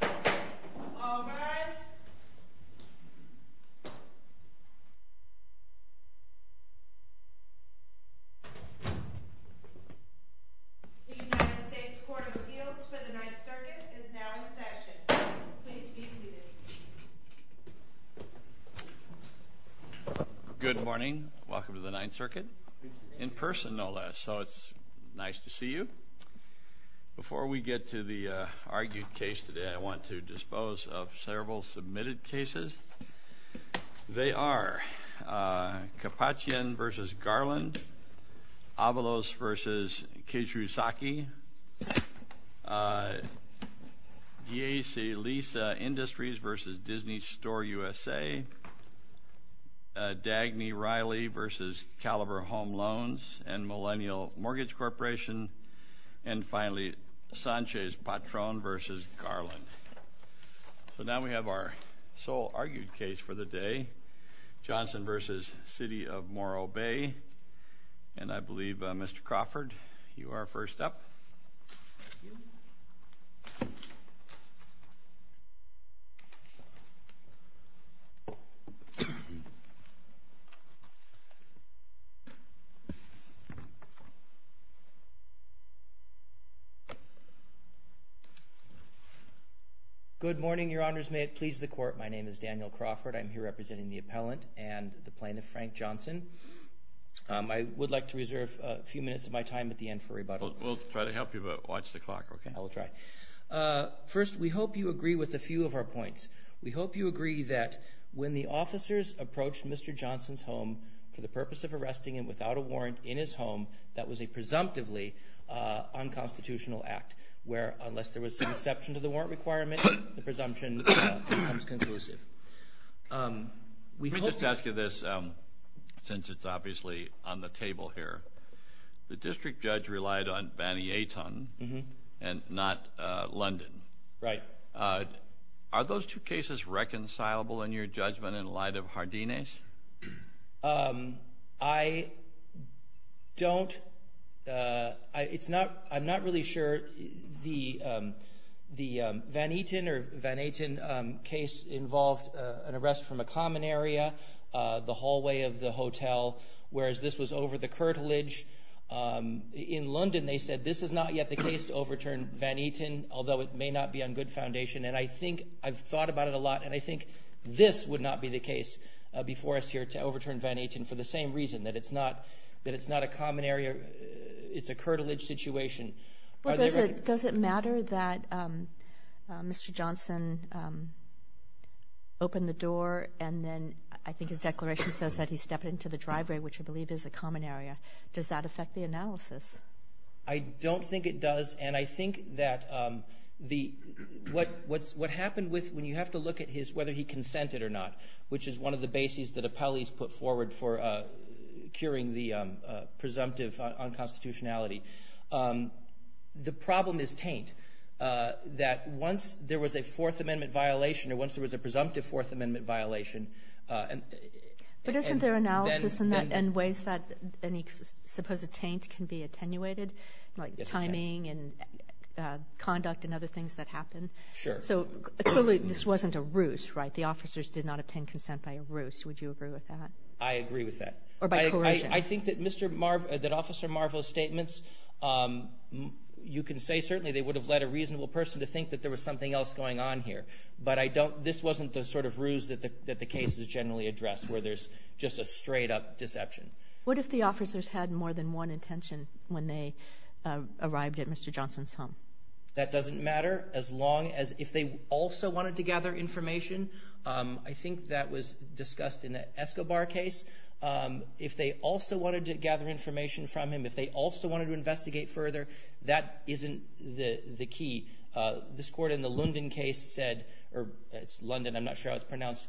The United States Court of Appeals for the Ninth Circuit is now in session. Please be seated. Good morning. Welcome to the Ninth Circuit, in person no less, so it's nice to see you. Before we get to the argued case today, I want to dispose of several submitted cases. They are Kapachian v. Garland, Avalos v. Keishu Saki, DAC Lease Industries v. Disney Store USA, Dagny Riley v. Caliber Home Loans and Millennial Mortgage Corporation, and finally Sanchez-Patron v. Garland. So now we have our sole argued case for the day, Johnson v. City of Morro Bay, and I believe Mr. Crawford, you are first up. Good morning, Your Honors. May it please the Court, my name is Daniel Crawford. I'm here representing the appellant and the plaintiff, Frank Johnson. I would like to reserve a few minutes of my time at the end for rebuttal. We'll try to help you, but watch the clock, okay? I will try. First, we hope you agree with a few of our points. We hope you agree that when the officers approached Mr. Johnson's home for the purpose of arresting him without a warrant in his home, that was a presumptively unconstitutional act, where unless there was some exception to the warrant requirement, the presumption becomes conclusive. Let me just ask you this, since it's obviously on the table here. The district judge relied on Van Aten and not London. Right. Are those two cases reconcilable in your judgment in light of Hardines? I don't—I'm not really sure. The Van Aten case involved an arrest from a common area, the hallway of the hotel, whereas this was over the curtilage. In London, they said this is not yet the case to overturn Van Aten, although it may not be on good foundation. And I think I've thought about it a lot, and I think this would not be the case before us here to overturn Van Aten for the same reason, that it's not a common area. It's a curtilage situation. Does it matter that Mr. Johnson opened the door, and then I think his declaration says that he stepped into the driveway, which I believe is a common area. Does that affect the analysis? I don't think it does, and I think that the—what happened with—when you have to look at his—whether he consented or not, which is one of the bases that appellees put forward for curing the presumptive unconstitutionality. The problem is taint, that once there was a Fourth Amendment violation or once there was a presumptive Fourth Amendment violation, and then— Yes, it did. —conduct and other things that happened. Sure. So, clearly, this wasn't a ruse, right? The officers did not obtain consent by a ruse. Would you agree with that? I agree with that. Or by coercion. I think that Mr. Mar—that Officer Marvell's statements, you can say, certainly, they would have led a reasonable person to think that there was something else going on here. But I don't—this wasn't the sort of ruse that the case is generally addressed, where there's just a straight-up deception. What if the officers had more than one intention when they arrived at Mr. Johnson's home? That doesn't matter, as long as—if they also wanted to gather information. I think that was discussed in the Escobar case. If they also wanted to gather information from him, if they also wanted to investigate further, that isn't the key. This Court in the London case said—or it's London, I'm not sure how it's pronounced—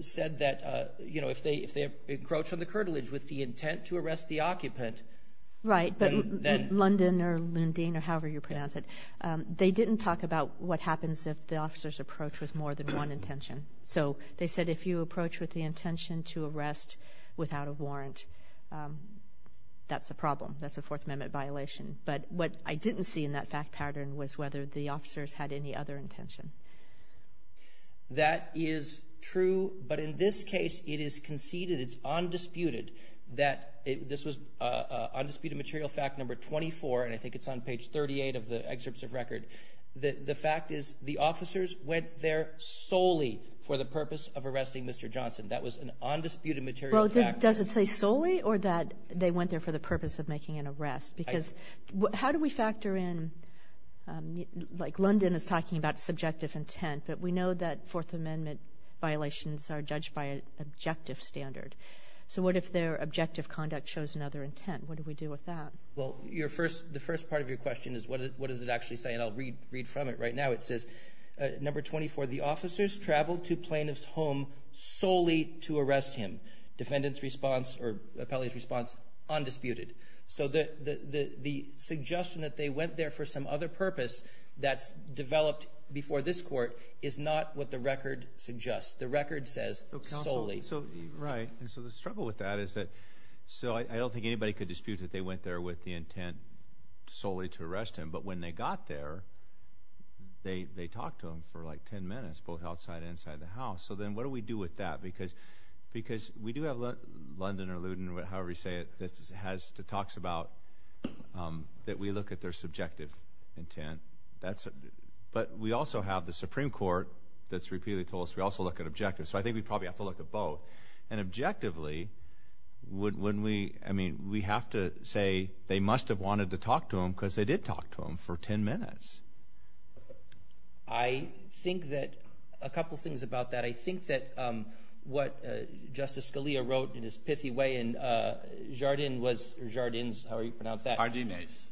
said that, you know, if they encroach on the curtilage with the intent to arrest the occupant— Right, but London or Lundin or however you pronounce it, they didn't talk about what happens if the officers approach with more than one intention. So they said if you approach with the intention to arrest without a warrant, that's a problem. That's a Fourth Amendment violation. But what I didn't see in that fact pattern was whether the officers had any other intention. That is true, but in this case it is conceded, it's undisputed, that—this was undisputed material fact number 24, and I think it's on page 38 of the excerpts of record— the fact is the officers went there solely for the purpose of arresting Mr. Johnson. That was an undisputed material fact. Well, does it say solely or that they went there for the purpose of making an arrest? Because how do we factor in—like Lundin is talking about subjective intent, but we know that Fourth Amendment violations are judged by an objective standard. So what if their objective conduct shows another intent? What do we do with that? Well, your first—the first part of your question is what does it actually say, and I'll read from it right now. It says, number 24, the officers traveled to plaintiff's home solely to arrest him. Defendant's response or appellee's response, undisputed. So the suggestion that they went there for some other purpose that's developed before this court is not what the record suggests. The record says solely. Right, and so the struggle with that is that—so I don't think anybody could dispute that they went there with the intent solely to arrest him, but when they got there, they talked to him for like 10 minutes, both outside and inside the house. So then what do we do with that? Because we do have Lundin or Ludin, however you say it, that talks about that we look at their subjective intent. But we also have the Supreme Court that's repeatedly told us we also look at objectives, so I think we probably have to look at both. And objectively, wouldn't we—I mean, we have to say they must have wanted to talk to him because they did talk to him for 10 minutes. I think that—a couple things about that. I think that what Justice Scalia wrote in his pithy way in Jardine's—how do you pronounce that? Jardine's.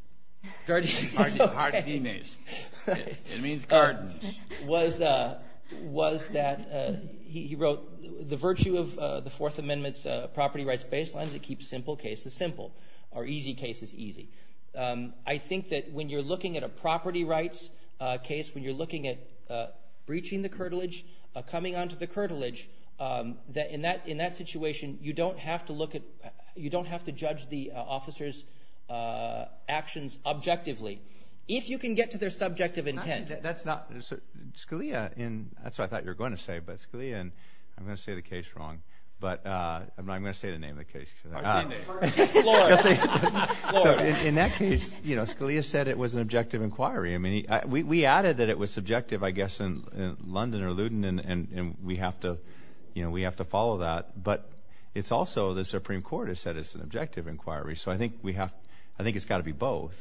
Jardine's. Jardine's. It means gardens. Was that—he wrote, the virtue of the Fourth Amendment's property rights baselines, it keeps simple cases simple or easy cases easy. I think that when you're looking at a property rights case, when you're looking at breaching the curtilage, coming onto the curtilage, in that situation you don't have to look at—you don't have to judge the officer's actions objectively. If you can get to their subjective intent. That's not—Scalia in—that's what I thought you were going to say, but Scalia in—I'm going to say the case wrong, but I'm going to say the name of the case. Jardine. Floor. Floor. In that case, Scalia said it was an objective inquiry. I mean, we added that it was subjective, I guess, in London or Luton, and we have to follow that, but it's also the Supreme Court has said it's an objective inquiry, so I think we have—I think it's got to be both,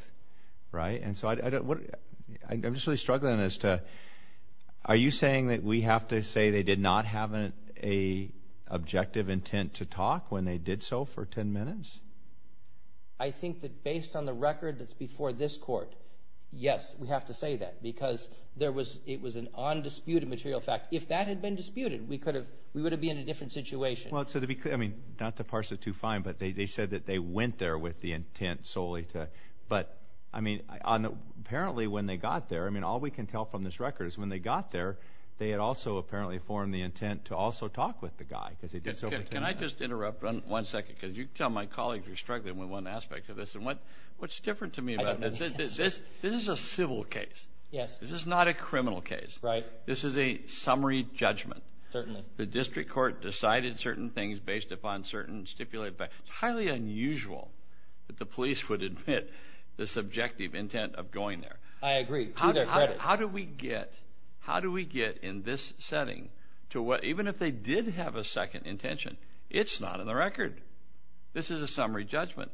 right? And so I don't—I'm just really struggling as to—are you saying that we have to say they did not have an objective intent to talk when they did so for 10 minutes? I think that based on the record that's before this Court, yes, we have to say that because there was—it was an undisputed material fact. If that had been disputed, we could have—we would have been in a different situation. Well, to be—I mean, not to parse it too fine, but they said that they went there with the intent solely to—but, I mean, apparently when they got there—I mean, all we can tell from this record is when they got there, they had also apparently formed the intent to also talk with the guy because they did so for 10 minutes. Can I just interrupt one second because you tell my colleagues you're struggling with one aspect of this, and what's different to me about this is this is a civil case. Yes. This is not a criminal case. Right. This is a summary judgment. Certainly. The district court decided certain things based upon certain stipulated facts. It's highly unusual that the police would admit the subjective intent of going there. I agree, to their credit. How do we get—how do we get in this setting to what—even if they did have a second intention, it's not in the record. This is a summary judgment.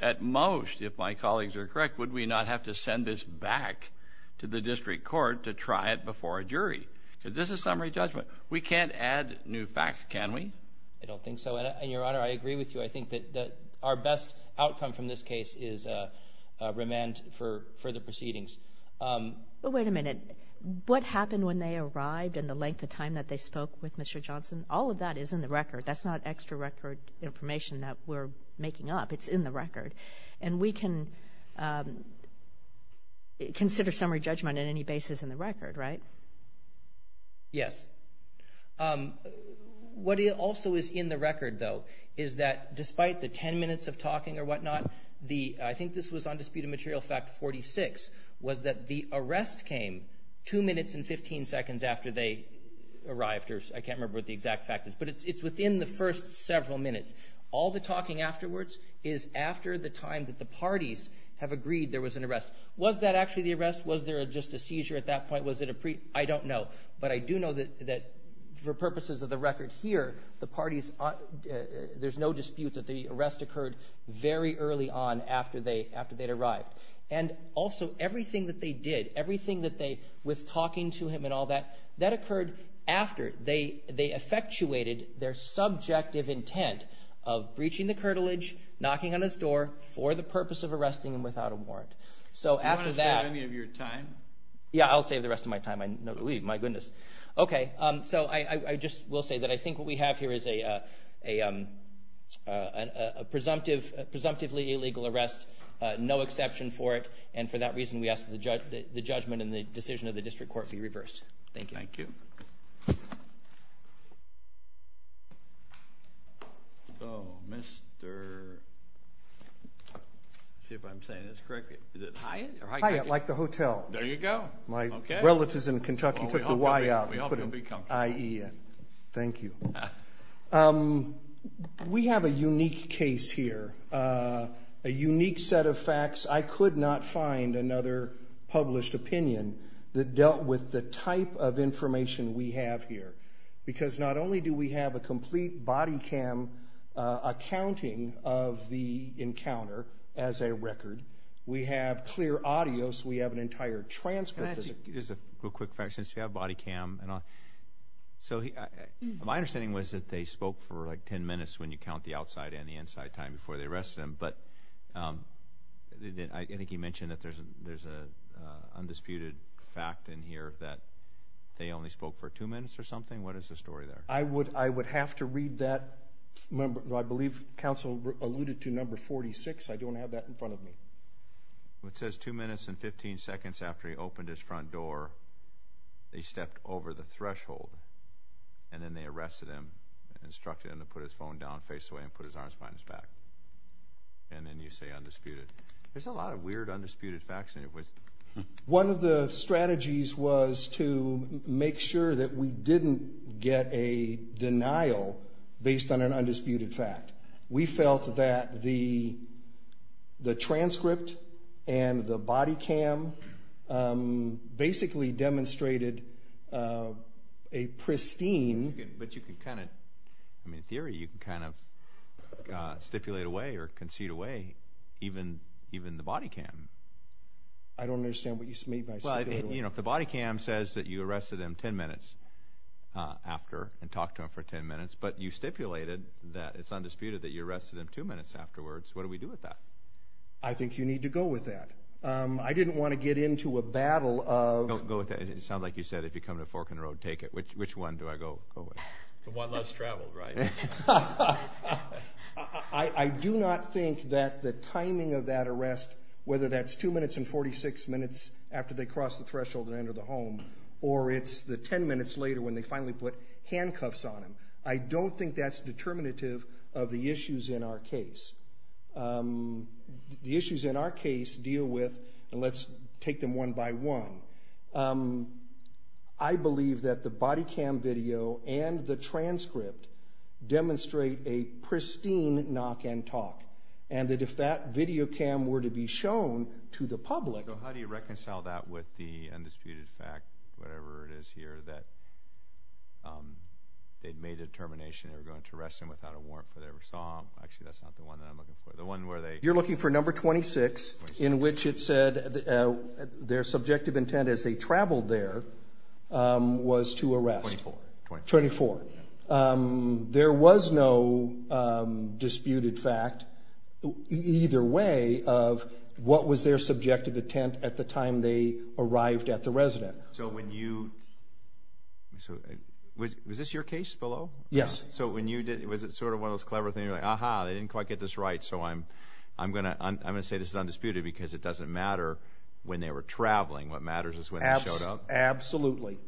At most, if my colleagues are correct, would we not have to send this back to the district court to try it before a jury? This is a summary judgment. We can't add new facts, can we? I don't think so. And, Your Honor, I agree with you. I think that our best outcome from this case is remand for further proceedings. But wait a minute. What happened when they arrived and the length of time that they spoke with Mr. Johnson, all of that is in the record. That's not extra record information that we're making up. It's in the record. And we can consider summary judgment on any basis in the record, right? Yes. What also is in the record, though, is that despite the 10 minutes of talking or whatnot, I think this was on Dispute and Material Fact 46, was that the arrest came 2 minutes and 15 seconds after they arrived. I can't remember what the exact fact is. But it's within the first several minutes. All the talking afterwards is after the time that the parties have agreed there was an arrest. Was that actually the arrest? Was there just a seizure at that point? Was it a pre? I don't know. But I do know that for purposes of the record here, there's no dispute that the arrest occurred very early on after they'd arrived. And also, everything that they did, everything that they, with talking to him and all that, that occurred after they effectuated their subjective intent of breaching the curtilage, knocking on his door for the purpose of arresting him without a warrant. Do you want to save any of your time? Yeah, I'll save the rest of my time. My goodness. Okay. So I just will say that I think what we have here is a presumptively illegal arrest, no exception for it. And for that reason, we ask that the judgment and the decision of the district court be reversed. Thank you. Thank you. So, Mr. – let's see if I'm saying this correctly. Is it Hyatt? Hyatt, like the hotel. There you go. My relatives in Kentucky took the Y out and put in IEN. Thank you. We have a unique case here, a unique set of facts. I could not find another published opinion that dealt with the type of information we have here, because not only do we have a complete body cam accounting of the encounter as a record, we have clear audio, we have an entire transcript. Just a real quick fact, since you have body cam and all. So my understanding was that they spoke for like ten minutes when you count the outside and the inside time before they arrested him. But I think you mentioned that there's an undisputed fact in here that they only spoke for two minutes or something. What is the story there? I would have to read that. I believe counsel alluded to number 46. I don't have that in front of me. It says two minutes and 15 seconds after he opened his front door, they stepped over the threshold, and then they arrested him and instructed him to put his phone down face away and put his arms behind his back. And then you say undisputed. There's a lot of weird undisputed facts in it. One of the strategies was to make sure that we didn't get a denial based on an undisputed fact. We felt that the transcript and the body cam basically demonstrated a pristine. But you can kind of, I mean in theory, you can kind of stipulate away or concede away even the body cam. I don't understand what you mean by stipulate away. Well, you know, if the body cam says that you arrested him ten minutes after and talked to him for ten minutes, but you stipulated that it's undisputed that you arrested him two minutes afterwards, what do we do with that? I think you need to go with that. I didn't want to get into a battle of. Go with that. It sounds like you said if you come to Fork in the Road, take it. Which one do I go with? The one less traveled, right? I do not think that the timing of that arrest, whether that's two minutes and 46 minutes after they crossed the threshold and entered the home or it's the ten minutes later when they finally put handcuffs on him, I don't think that's determinative of the issues in our case. The issues in our case deal with, and let's take them one by one, I believe that the body cam video and the transcript demonstrate a pristine knock and talk, and that if that video cam were to be shown to the public. How do you reconcile that with the undisputed fact, whatever it is here, that they made the determination they were going to arrest him without a warrant for their assault? Actually, that's not the one that I'm looking for. You're looking for number 26 in which it said their subjective intent as they traveled there was to arrest. 24. 24. There was no disputed fact either way of what was their subjective intent at the time they arrived at the residence. So when you – was this your case below? Yes. So when you did – was it sort of one of those clever things like, aha, they didn't quite get this right so I'm going to say this is undisputed because it doesn't matter when they were traveling, what matters is when they showed up? Absolutely.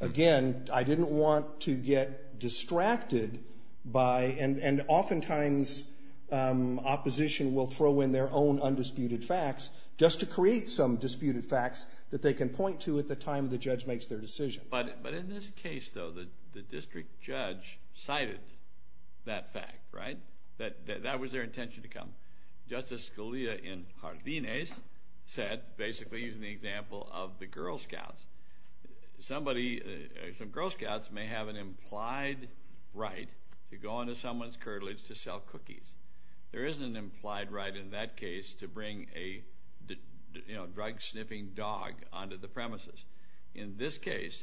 Again, I didn't want to get distracted by – and oftentimes opposition will throw in their own undisputed facts just to create some disputed facts that they can point to at the time the judge makes their decision. But in this case, though, the district judge cited that fact, right? That was their intention to come. Justice Scalia in Jardines said, basically using the example of the Girl Scouts, somebody – some Girl Scouts may have an implied right to go into someone's curtilage to sell cookies. There is an implied right in that case to bring a, you know, drug-sniffing dog onto the premises. In this case,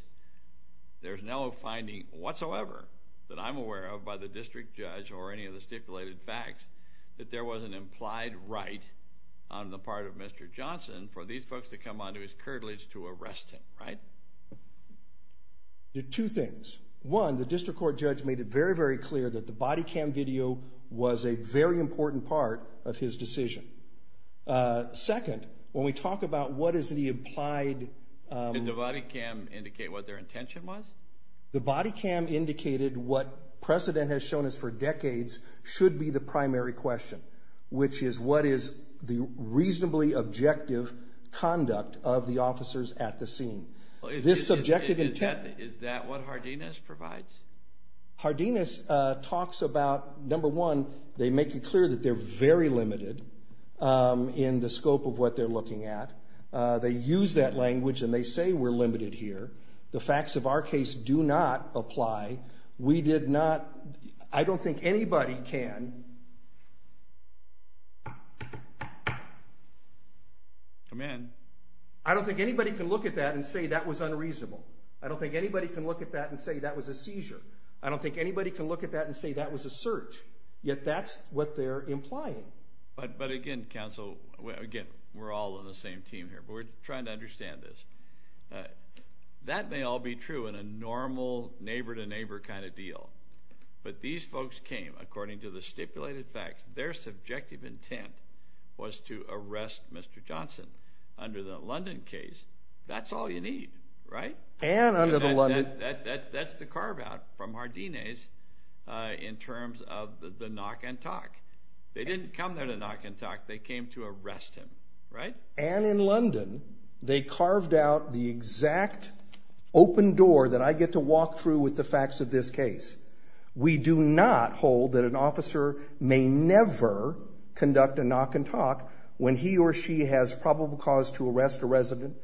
there's no finding whatsoever that I'm aware of by the district judge or any of the stipulated facts that there was an implied right on the part of Mr. Johnson for these folks to come onto his curtilage to arrest him, right? Two things. One, the district court judge made it very, very clear that the body cam video was a very important part of his decision. Second, when we talk about what is the implied – Did the body cam indicate what their intention was? The body cam indicated what precedent has shown us for decades should be the primary question, which is what is the reasonably objective conduct of the officers at the scene. This subjective intent. Is that what Jardines provides? Jardines talks about, number one, they make it clear that they're very limited in the scope of what they're looking at. They use that language, and they say we're limited here. The facts of our case do not apply. We did not – I don't think anybody can – Come in. I don't think anybody can look at that and say that was unreasonable. I don't think anybody can look at that and say that was a seizure. I don't think anybody can look at that and say that was a search, yet that's what they're implying. But, again, counsel, again, we're all on the same team here, but we're trying to understand this. That may all be true in a normal neighbor-to-neighbor kind of deal, but these folks came according to the stipulated facts. Their subjective intent was to arrest Mr. Johnson under the London case. That's all you need, right? And under the London – That's the carve-out from Jardines in terms of the knock and talk. They didn't come there to knock and talk. They came to arrest him, right? And in London, they carved out the exact open door that I get to walk through with the facts of this case. We do not hold that an officer may never conduct a knock and talk when he or she has probable cause to arrest a resident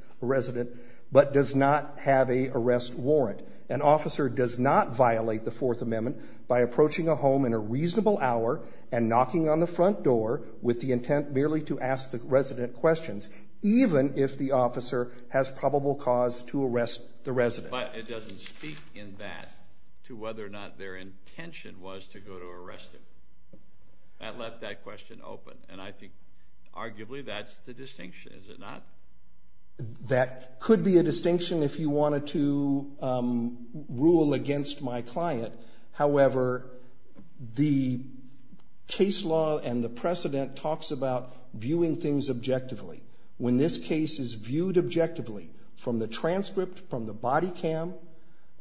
but does not have a arrest warrant. An officer does not violate the Fourth Amendment by approaching a home in a reasonable hour and knocking on the front door with the intent merely to ask the resident questions, even if the officer has probable cause to arrest the resident. But it doesn't speak in that to whether or not their intention was to go to arrest him. That left that question open, and I think arguably that's the distinction, is it not? That could be a distinction if you wanted to rule against my client. However, the case law and the precedent talks about viewing things objectively. When this case is viewed objectively from the transcript, from the body cam,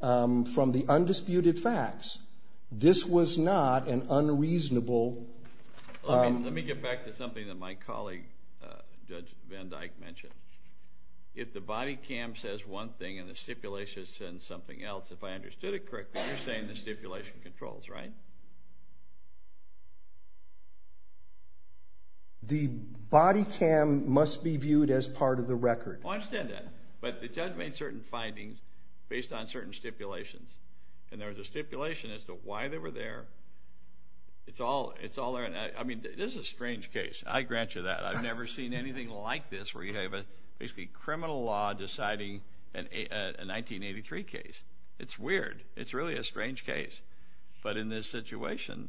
from the undisputed facts, this was not an unreasonable— Let me get back to something that my colleague, Judge Van Dyck, mentioned. If the body cam says one thing and the stipulation says something else, if I understood it correctly, you're saying the stipulation controls, right? The body cam must be viewed as part of the record. I understand that, but the judge made certain findings based on certain stipulations, and there was a stipulation as to why they were there. It's all there. I mean, this is a strange case. I grant you that. I've never seen anything like this where you have a basically criminal law deciding a 1983 case. It's weird. It's really a strange case. But in this situation,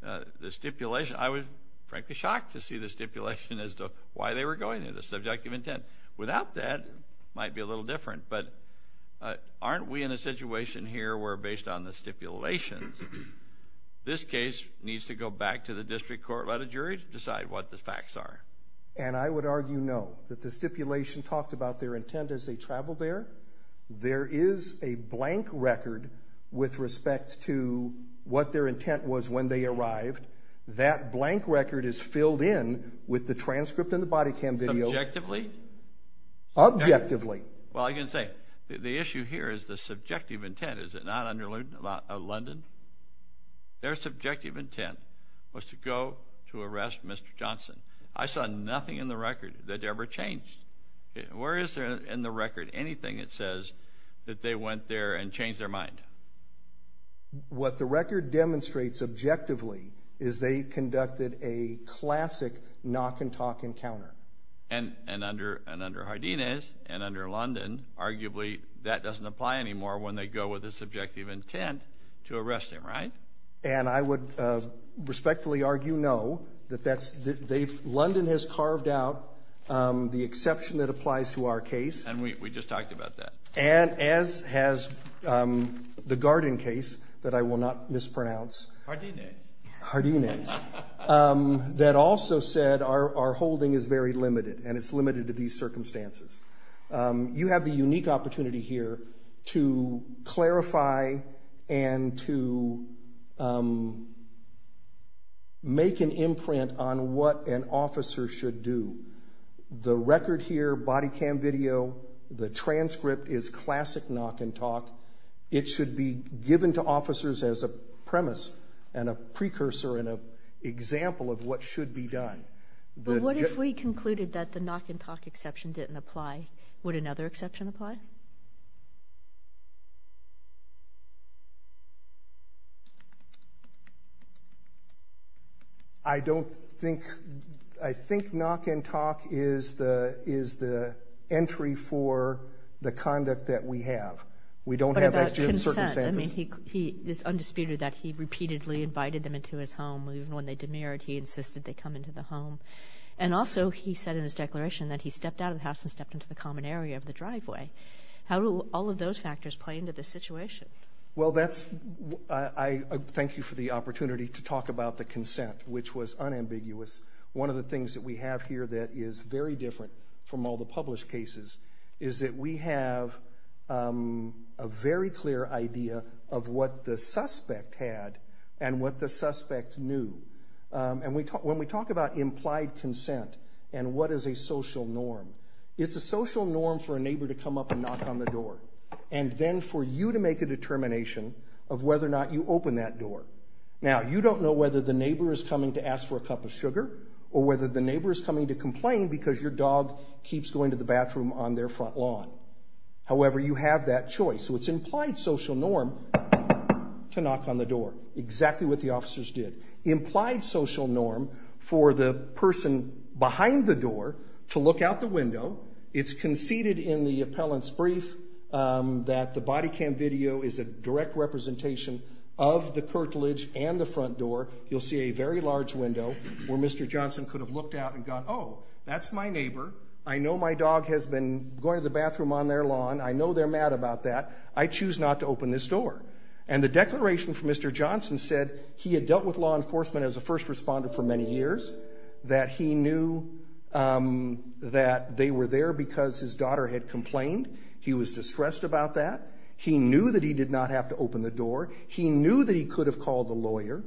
the stipulation— I was frankly shocked to see the stipulation as to why they were going there, the subjective intent. Without that, it might be a little different. But aren't we in a situation here where, based on the stipulations, this case needs to go back to the district court, let a jury decide what the facts are? And I would argue no, that the stipulation talked about their intent as they traveled there. There is a blank record with respect to what their intent was when they arrived. That blank record is filled in with the transcript and the body cam video. Subjectively? Objectively. Well, I can say the issue here is the subjective intent. Is it not under London? Their subjective intent was to go to arrest Mr. Johnson. I saw nothing in the record that ever changed. Where is there in the record anything that says that they went there and changed their mind? What the record demonstrates objectively is they conducted a classic knock-and-talk encounter. And under Hardinez and under London, arguably, that doesn't apply anymore when they go with a subjective intent to arrest him, right? And I would respectfully argue no. London has carved out the exception that applies to our case. And we just talked about that. And as has the Garden case that I will not mispronounce. Hardinez. Hardinez. That also said our holding is very limited and it's limited to these circumstances. You have the unique opportunity here to clarify and to make an imprint on what an officer should do. The record here, body cam video, the transcript is classic knock-and-talk. It should be given to officers as a premise and a precursor and an example of what should be done. But what if we concluded that the knock-and-talk exception didn't apply? Would another exception apply? I don't think. I think knock-and-talk is the entry for the conduct that we have. We don't have actual circumstances. What about consent? I mean, it's undisputed that he repeatedly invited them into his home. Even when they demurred, he insisted they come into the home. And also he said in his declaration that he stepped out of the house and stepped into the common area of the driveway. How do all of those factors play into this situation? Well, that's why I thank you for the opportunity to talk about the consent, which was unambiguous. One of the things that we have here that is very different from all the published cases is that we have a very clear idea of what the suspect had and what the suspect knew. When we talk about implied consent and what is a social norm, it's a social norm for a neighbor to come up and knock on the door and then for you to make a determination of whether or not you open that door. Now, you don't know whether the neighbor is coming to ask for a cup of sugar or whether the neighbor is coming to complain because your dog keeps going to the bathroom on their front lawn. However, you have that choice. So it's implied social norm to knock on the door, exactly what the officers did. Implied social norm for the person behind the door to look out the window. It's conceded in the appellant's brief that the body cam video is a direct representation of the curtilage and the front door. You'll see a very large window where Mr. Johnson could have looked out and gone, oh, that's my neighbor. I know my dog has been going to the bathroom on their lawn. I know they're mad about that. I choose not to open this door. And the declaration from Mr. Johnson said he had dealt with law enforcement as a first responder for many years, that he knew that they were there because his daughter had complained. He was distressed about that. He knew that he did not have to open the door. He knew that he could have called a lawyer,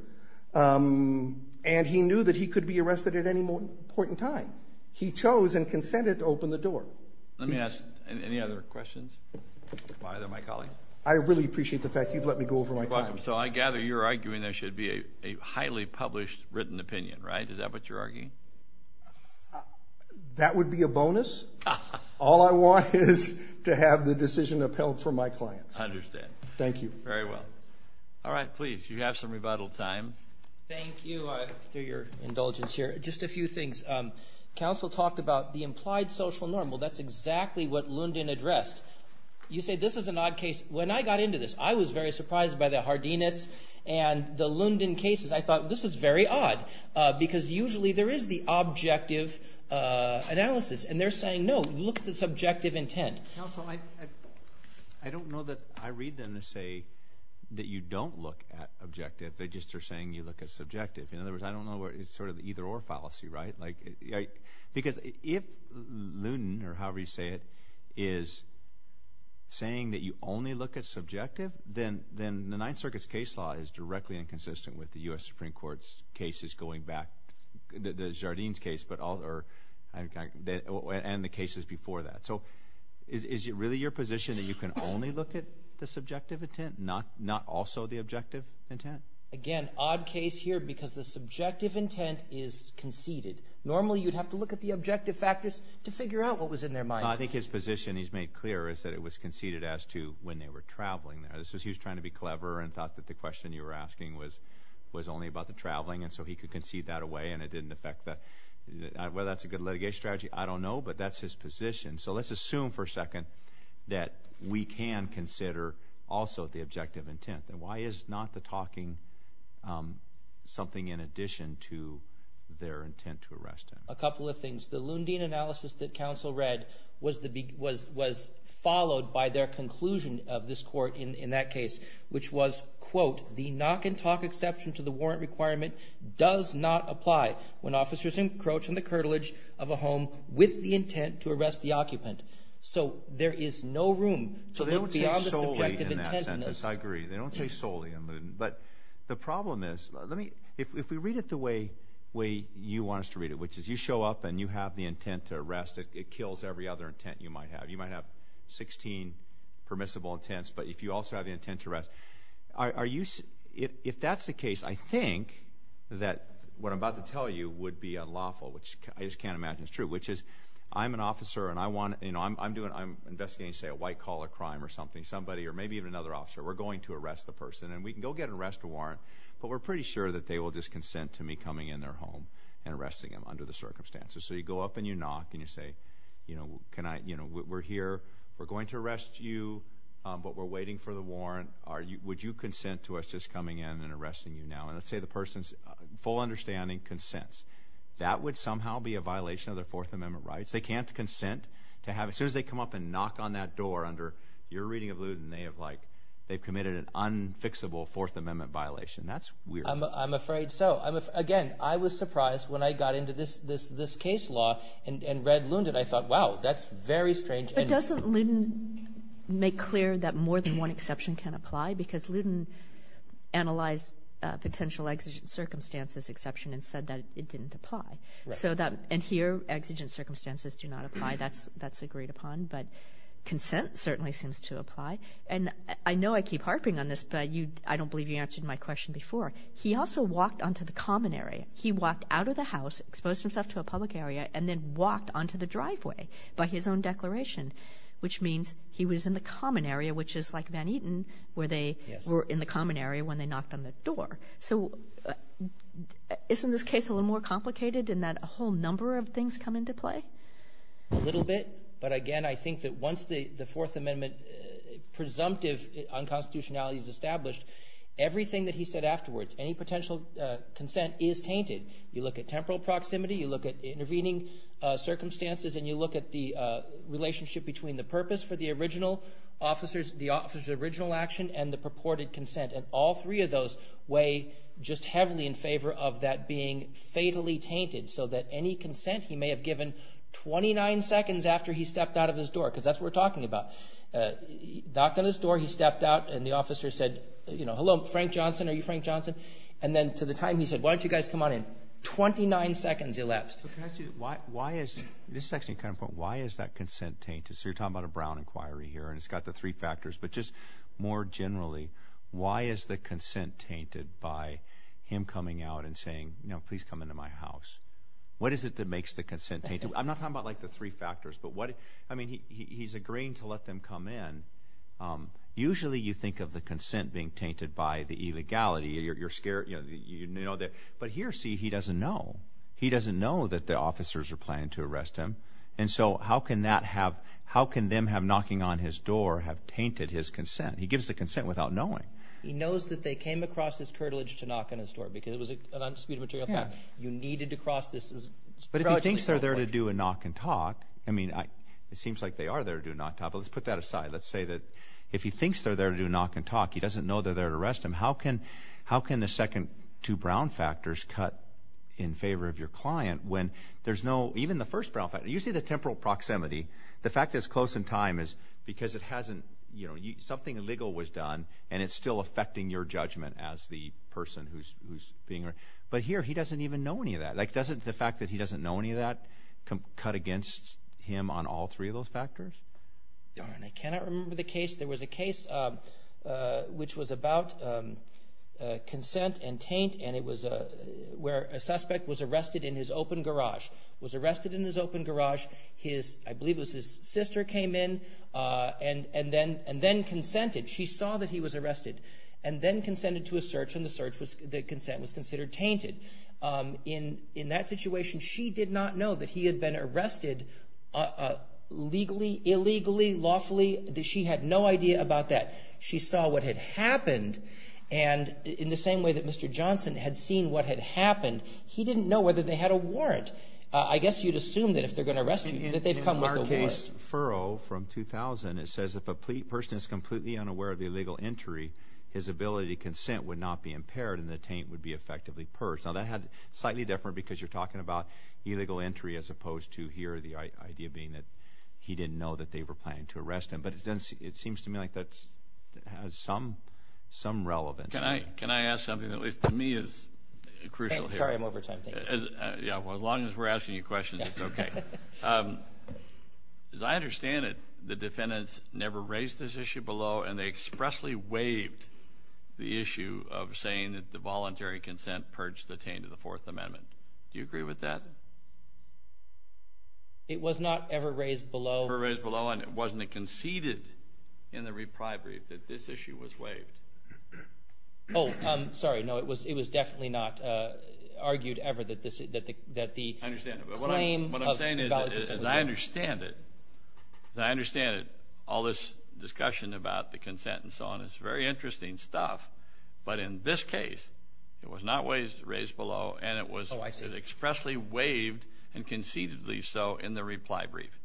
and he knew that he could be arrested at any point in time. He chose and consented to open the door. Let me ask any other questions of either of my colleagues. I really appreciate the fact you've let me go over my time. So I gather you're arguing there should be a highly published written opinion, right? Is that what you're arguing? That would be a bonus. All I want is to have the decision upheld for my clients. I understand. Thank you. Very well. All right, please, you have some rebuttal time. Thank you for your indulgence here. Just a few things. Counsel talked about the implied social normal. That's exactly what Lundin addressed. You say this is an odd case. When I got into this, I was very surprised by the Hardinas and the Lundin cases. I thought this is very odd because usually there is the objective analysis, and they're saying, no, look at the subjective intent. Counsel, I don't know that I read them to say that you don't look at objective. They just are saying you look at subjective. In other words, I don't know where it's sort of either-or fallacy, right? Because if Lundin, or however you say it, is saying that you only look at subjective, then the Ninth Circuit's case law is directly inconsistent with the U.S. Supreme Court's cases going back, the Jardines case and the cases before that. So is it really your position that you can only look at the subjective intent, not also the objective intent? Again, odd case here because the subjective intent is conceded. Normally, you'd have to look at the objective factors to figure out what was in their minds. I think his position he's made clear is that it was conceded as to when they were traveling there. He was trying to be clever and thought that the question you were asking was only about the traveling, and so he could concede that away, and it didn't affect that. Whether that's a good litigation strategy, I don't know, but that's his position. So let's assume for a second that we can consider also the objective intent. Why is not the talking something in addition to their intent to arrest him? A couple of things. The Lundin analysis that counsel read was followed by their conclusion of this court in that case, which was, quote, the knock-and-talk exception to the warrant requirement does not apply when officers encroach on the curtilage of a home with the intent to arrest the occupant. Yes, I agree. They don't say solely in Lundin. But the problem is, if we read it the way you want us to read it, which is you show up and you have the intent to arrest, it kills every other intent you might have. You might have 16 permissible intents, but if you also have the intent to arrest, if that's the case, I think that what I'm about to tell you would be unlawful, which I just can't imagine is true, which is I'm an officer and I'm investigating, say, a white-collar crime or something, somebody or maybe even another officer. We're going to arrest the person, and we can go get an arrest warrant, but we're pretty sure that they will just consent to me coming in their home and arresting them under the circumstances. So you go up and you knock and you say, you know, we're here. We're going to arrest you, but we're waiting for the warrant. Would you consent to us just coming in and arresting you now? And let's say the person's full understanding consents. That would somehow be a violation of their Fourth Amendment rights. They can't consent. As soon as they come up and knock on that door under your reading of Lewden, they've committed an unfixable Fourth Amendment violation. That's weird. I'm afraid so. Again, I was surprised when I got into this case law and read Lewden. I thought, wow, that's very strange. But doesn't Lewden make clear that more than one exception can apply? Because Lewden analyzed potential exigent circumstances exception and said that it didn't apply. And here exigent circumstances do not apply. That's agreed upon. But consent certainly seems to apply. And I know I keep harping on this, but I don't believe you answered my question before. He also walked onto the common area. He walked out of the house, exposed himself to a public area, and then walked onto the driveway by his own declaration, which means he was in the common area, which is like Van Eten, where they were in the common area when they knocked on the door. So isn't this case a little more complicated in that a whole number of things come into play? A little bit. But, again, I think that once the Fourth Amendment presumptive unconstitutionality is established, everything that he said afterwards, any potential consent, is tainted. You look at temporal proximity, you look at intervening circumstances, and you look at the relationship between the purpose for the original officer's original action and the purported consent. And all three of those weigh just heavily in favor of that being fatally tainted so that any consent he may have given 29 seconds after he stepped out of his door, because that's what we're talking about. He knocked on his door, he stepped out, and the officer said, you know, hello, Frank Johnson, are you Frank Johnson? And then to the time he said, why don't you guys come on in, 29 seconds elapsed. Why is that consent tainted? So you're talking about a Brown inquiry here, and it's got the three factors. But just more generally, why is the consent tainted by him coming out and saying, you know, please come into my house? What is it that makes the consent tainted? I'm not talking about, like, the three factors, but what, I mean, he's agreeing to let them come in. Usually you think of the consent being tainted by the illegality. You're scared, you know, but here, see, he doesn't know. He doesn't know that the officers are planning to arrest him. And so how can that have, how can them have knocking on his door have tainted his consent? He gives the consent without knowing. He knows that they came across his curtilage to knock on his door because it was an unspecified material. You needed to cross this. But if he thinks they're there to do a knock and talk, I mean, it seems like they are there to do a knock and talk, but let's put that aside. Let's say that if he thinks they're there to do a knock and talk, he doesn't know they're there to arrest him. How can the second two Brown factors cut in favor of your client when there's no, even the first Brown factor, you see the temporal proximity. The fact that it's close in time is because it hasn't, you know, something illegal was done and it's still affecting your judgment as the person who's being arrested. But here, he doesn't even know any of that. Like, doesn't the fact that he doesn't know any of that cut against him on all three of those factors? Darn, I cannot remember the case. There was a case which was about consent and taint, and it was where a suspect was arrested in his open garage, was arrested in his open garage. His, I believe it was his sister came in and then consented. She saw that he was arrested and then consented to a search, and the search was, the consent was considered tainted. In that situation, she did not know that he had been arrested legally, illegally, lawfully. She had no idea about that. She saw what had happened, and in the same way that Mr. Johnson had seen what had happened, he didn't know whether they had a warrant. I guess you'd assume that if they're going to arrest you that they've come with a warrant. In our case, Furrow from 2000, it says if a person is completely unaware of the illegal entry, his ability to consent would not be impaired and the taint would be effectively purged. Now, that had slightly different because you're talking about illegal entry as opposed to here, the idea being that he didn't know that they were planning to arrest him. But it seems to me like that has some relevance. Can I ask something that at least to me is crucial here? Sorry, I'm over time. Yeah, well, as long as we're asking you questions, it's okay. As I understand it, the defendants never raised this issue below, and they expressly waived the issue of saying that the voluntary consent purged the taint of the Fourth Amendment. Do you agree with that? It was not ever raised below. Ever raised below, and wasn't it conceded in the reprieve that this issue was waived? Oh, sorry, no, it was definitely not argued ever that the claim of valid consent was waived. I understand. What I'm saying is I understand it. I understand all this discussion about the consent and so on. It's very interesting stuff. But in this case, it was not raised below, and it was expressly waived and concededly so in the reply brief.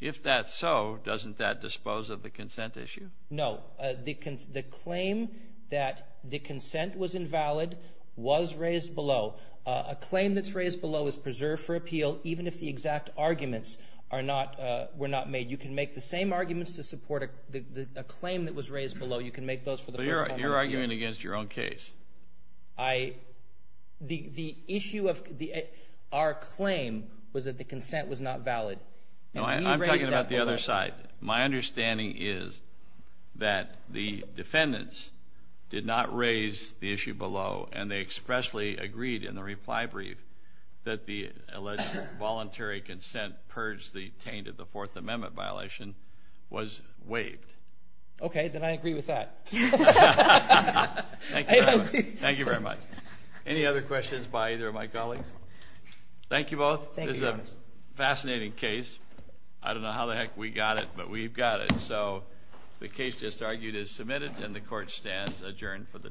If that's so, doesn't that dispose of the consent issue? No. The claim that the consent was invalid was raised below. A claim that's raised below is preserved for appeal even if the exact arguments were not made. You can make the same arguments to support a claim that was raised below. You can make those for the First Amendment. But you're arguing against your own case. The issue of our claim was that the consent was not valid. No, I'm talking about the other side. My understanding is that the defendants did not raise the issue below, and they expressly agreed in the reply brief that the alleged voluntary consent purged the taint of the Fourth Amendment violation was waived. Okay, then I agree with that. Thank you very much. Any other questions by either of my colleagues? Thank you both. This is a fascinating case. I don't know how the heck we got it, but we've got it. So the case just argued is submitted, and the Court stands adjourned for the day.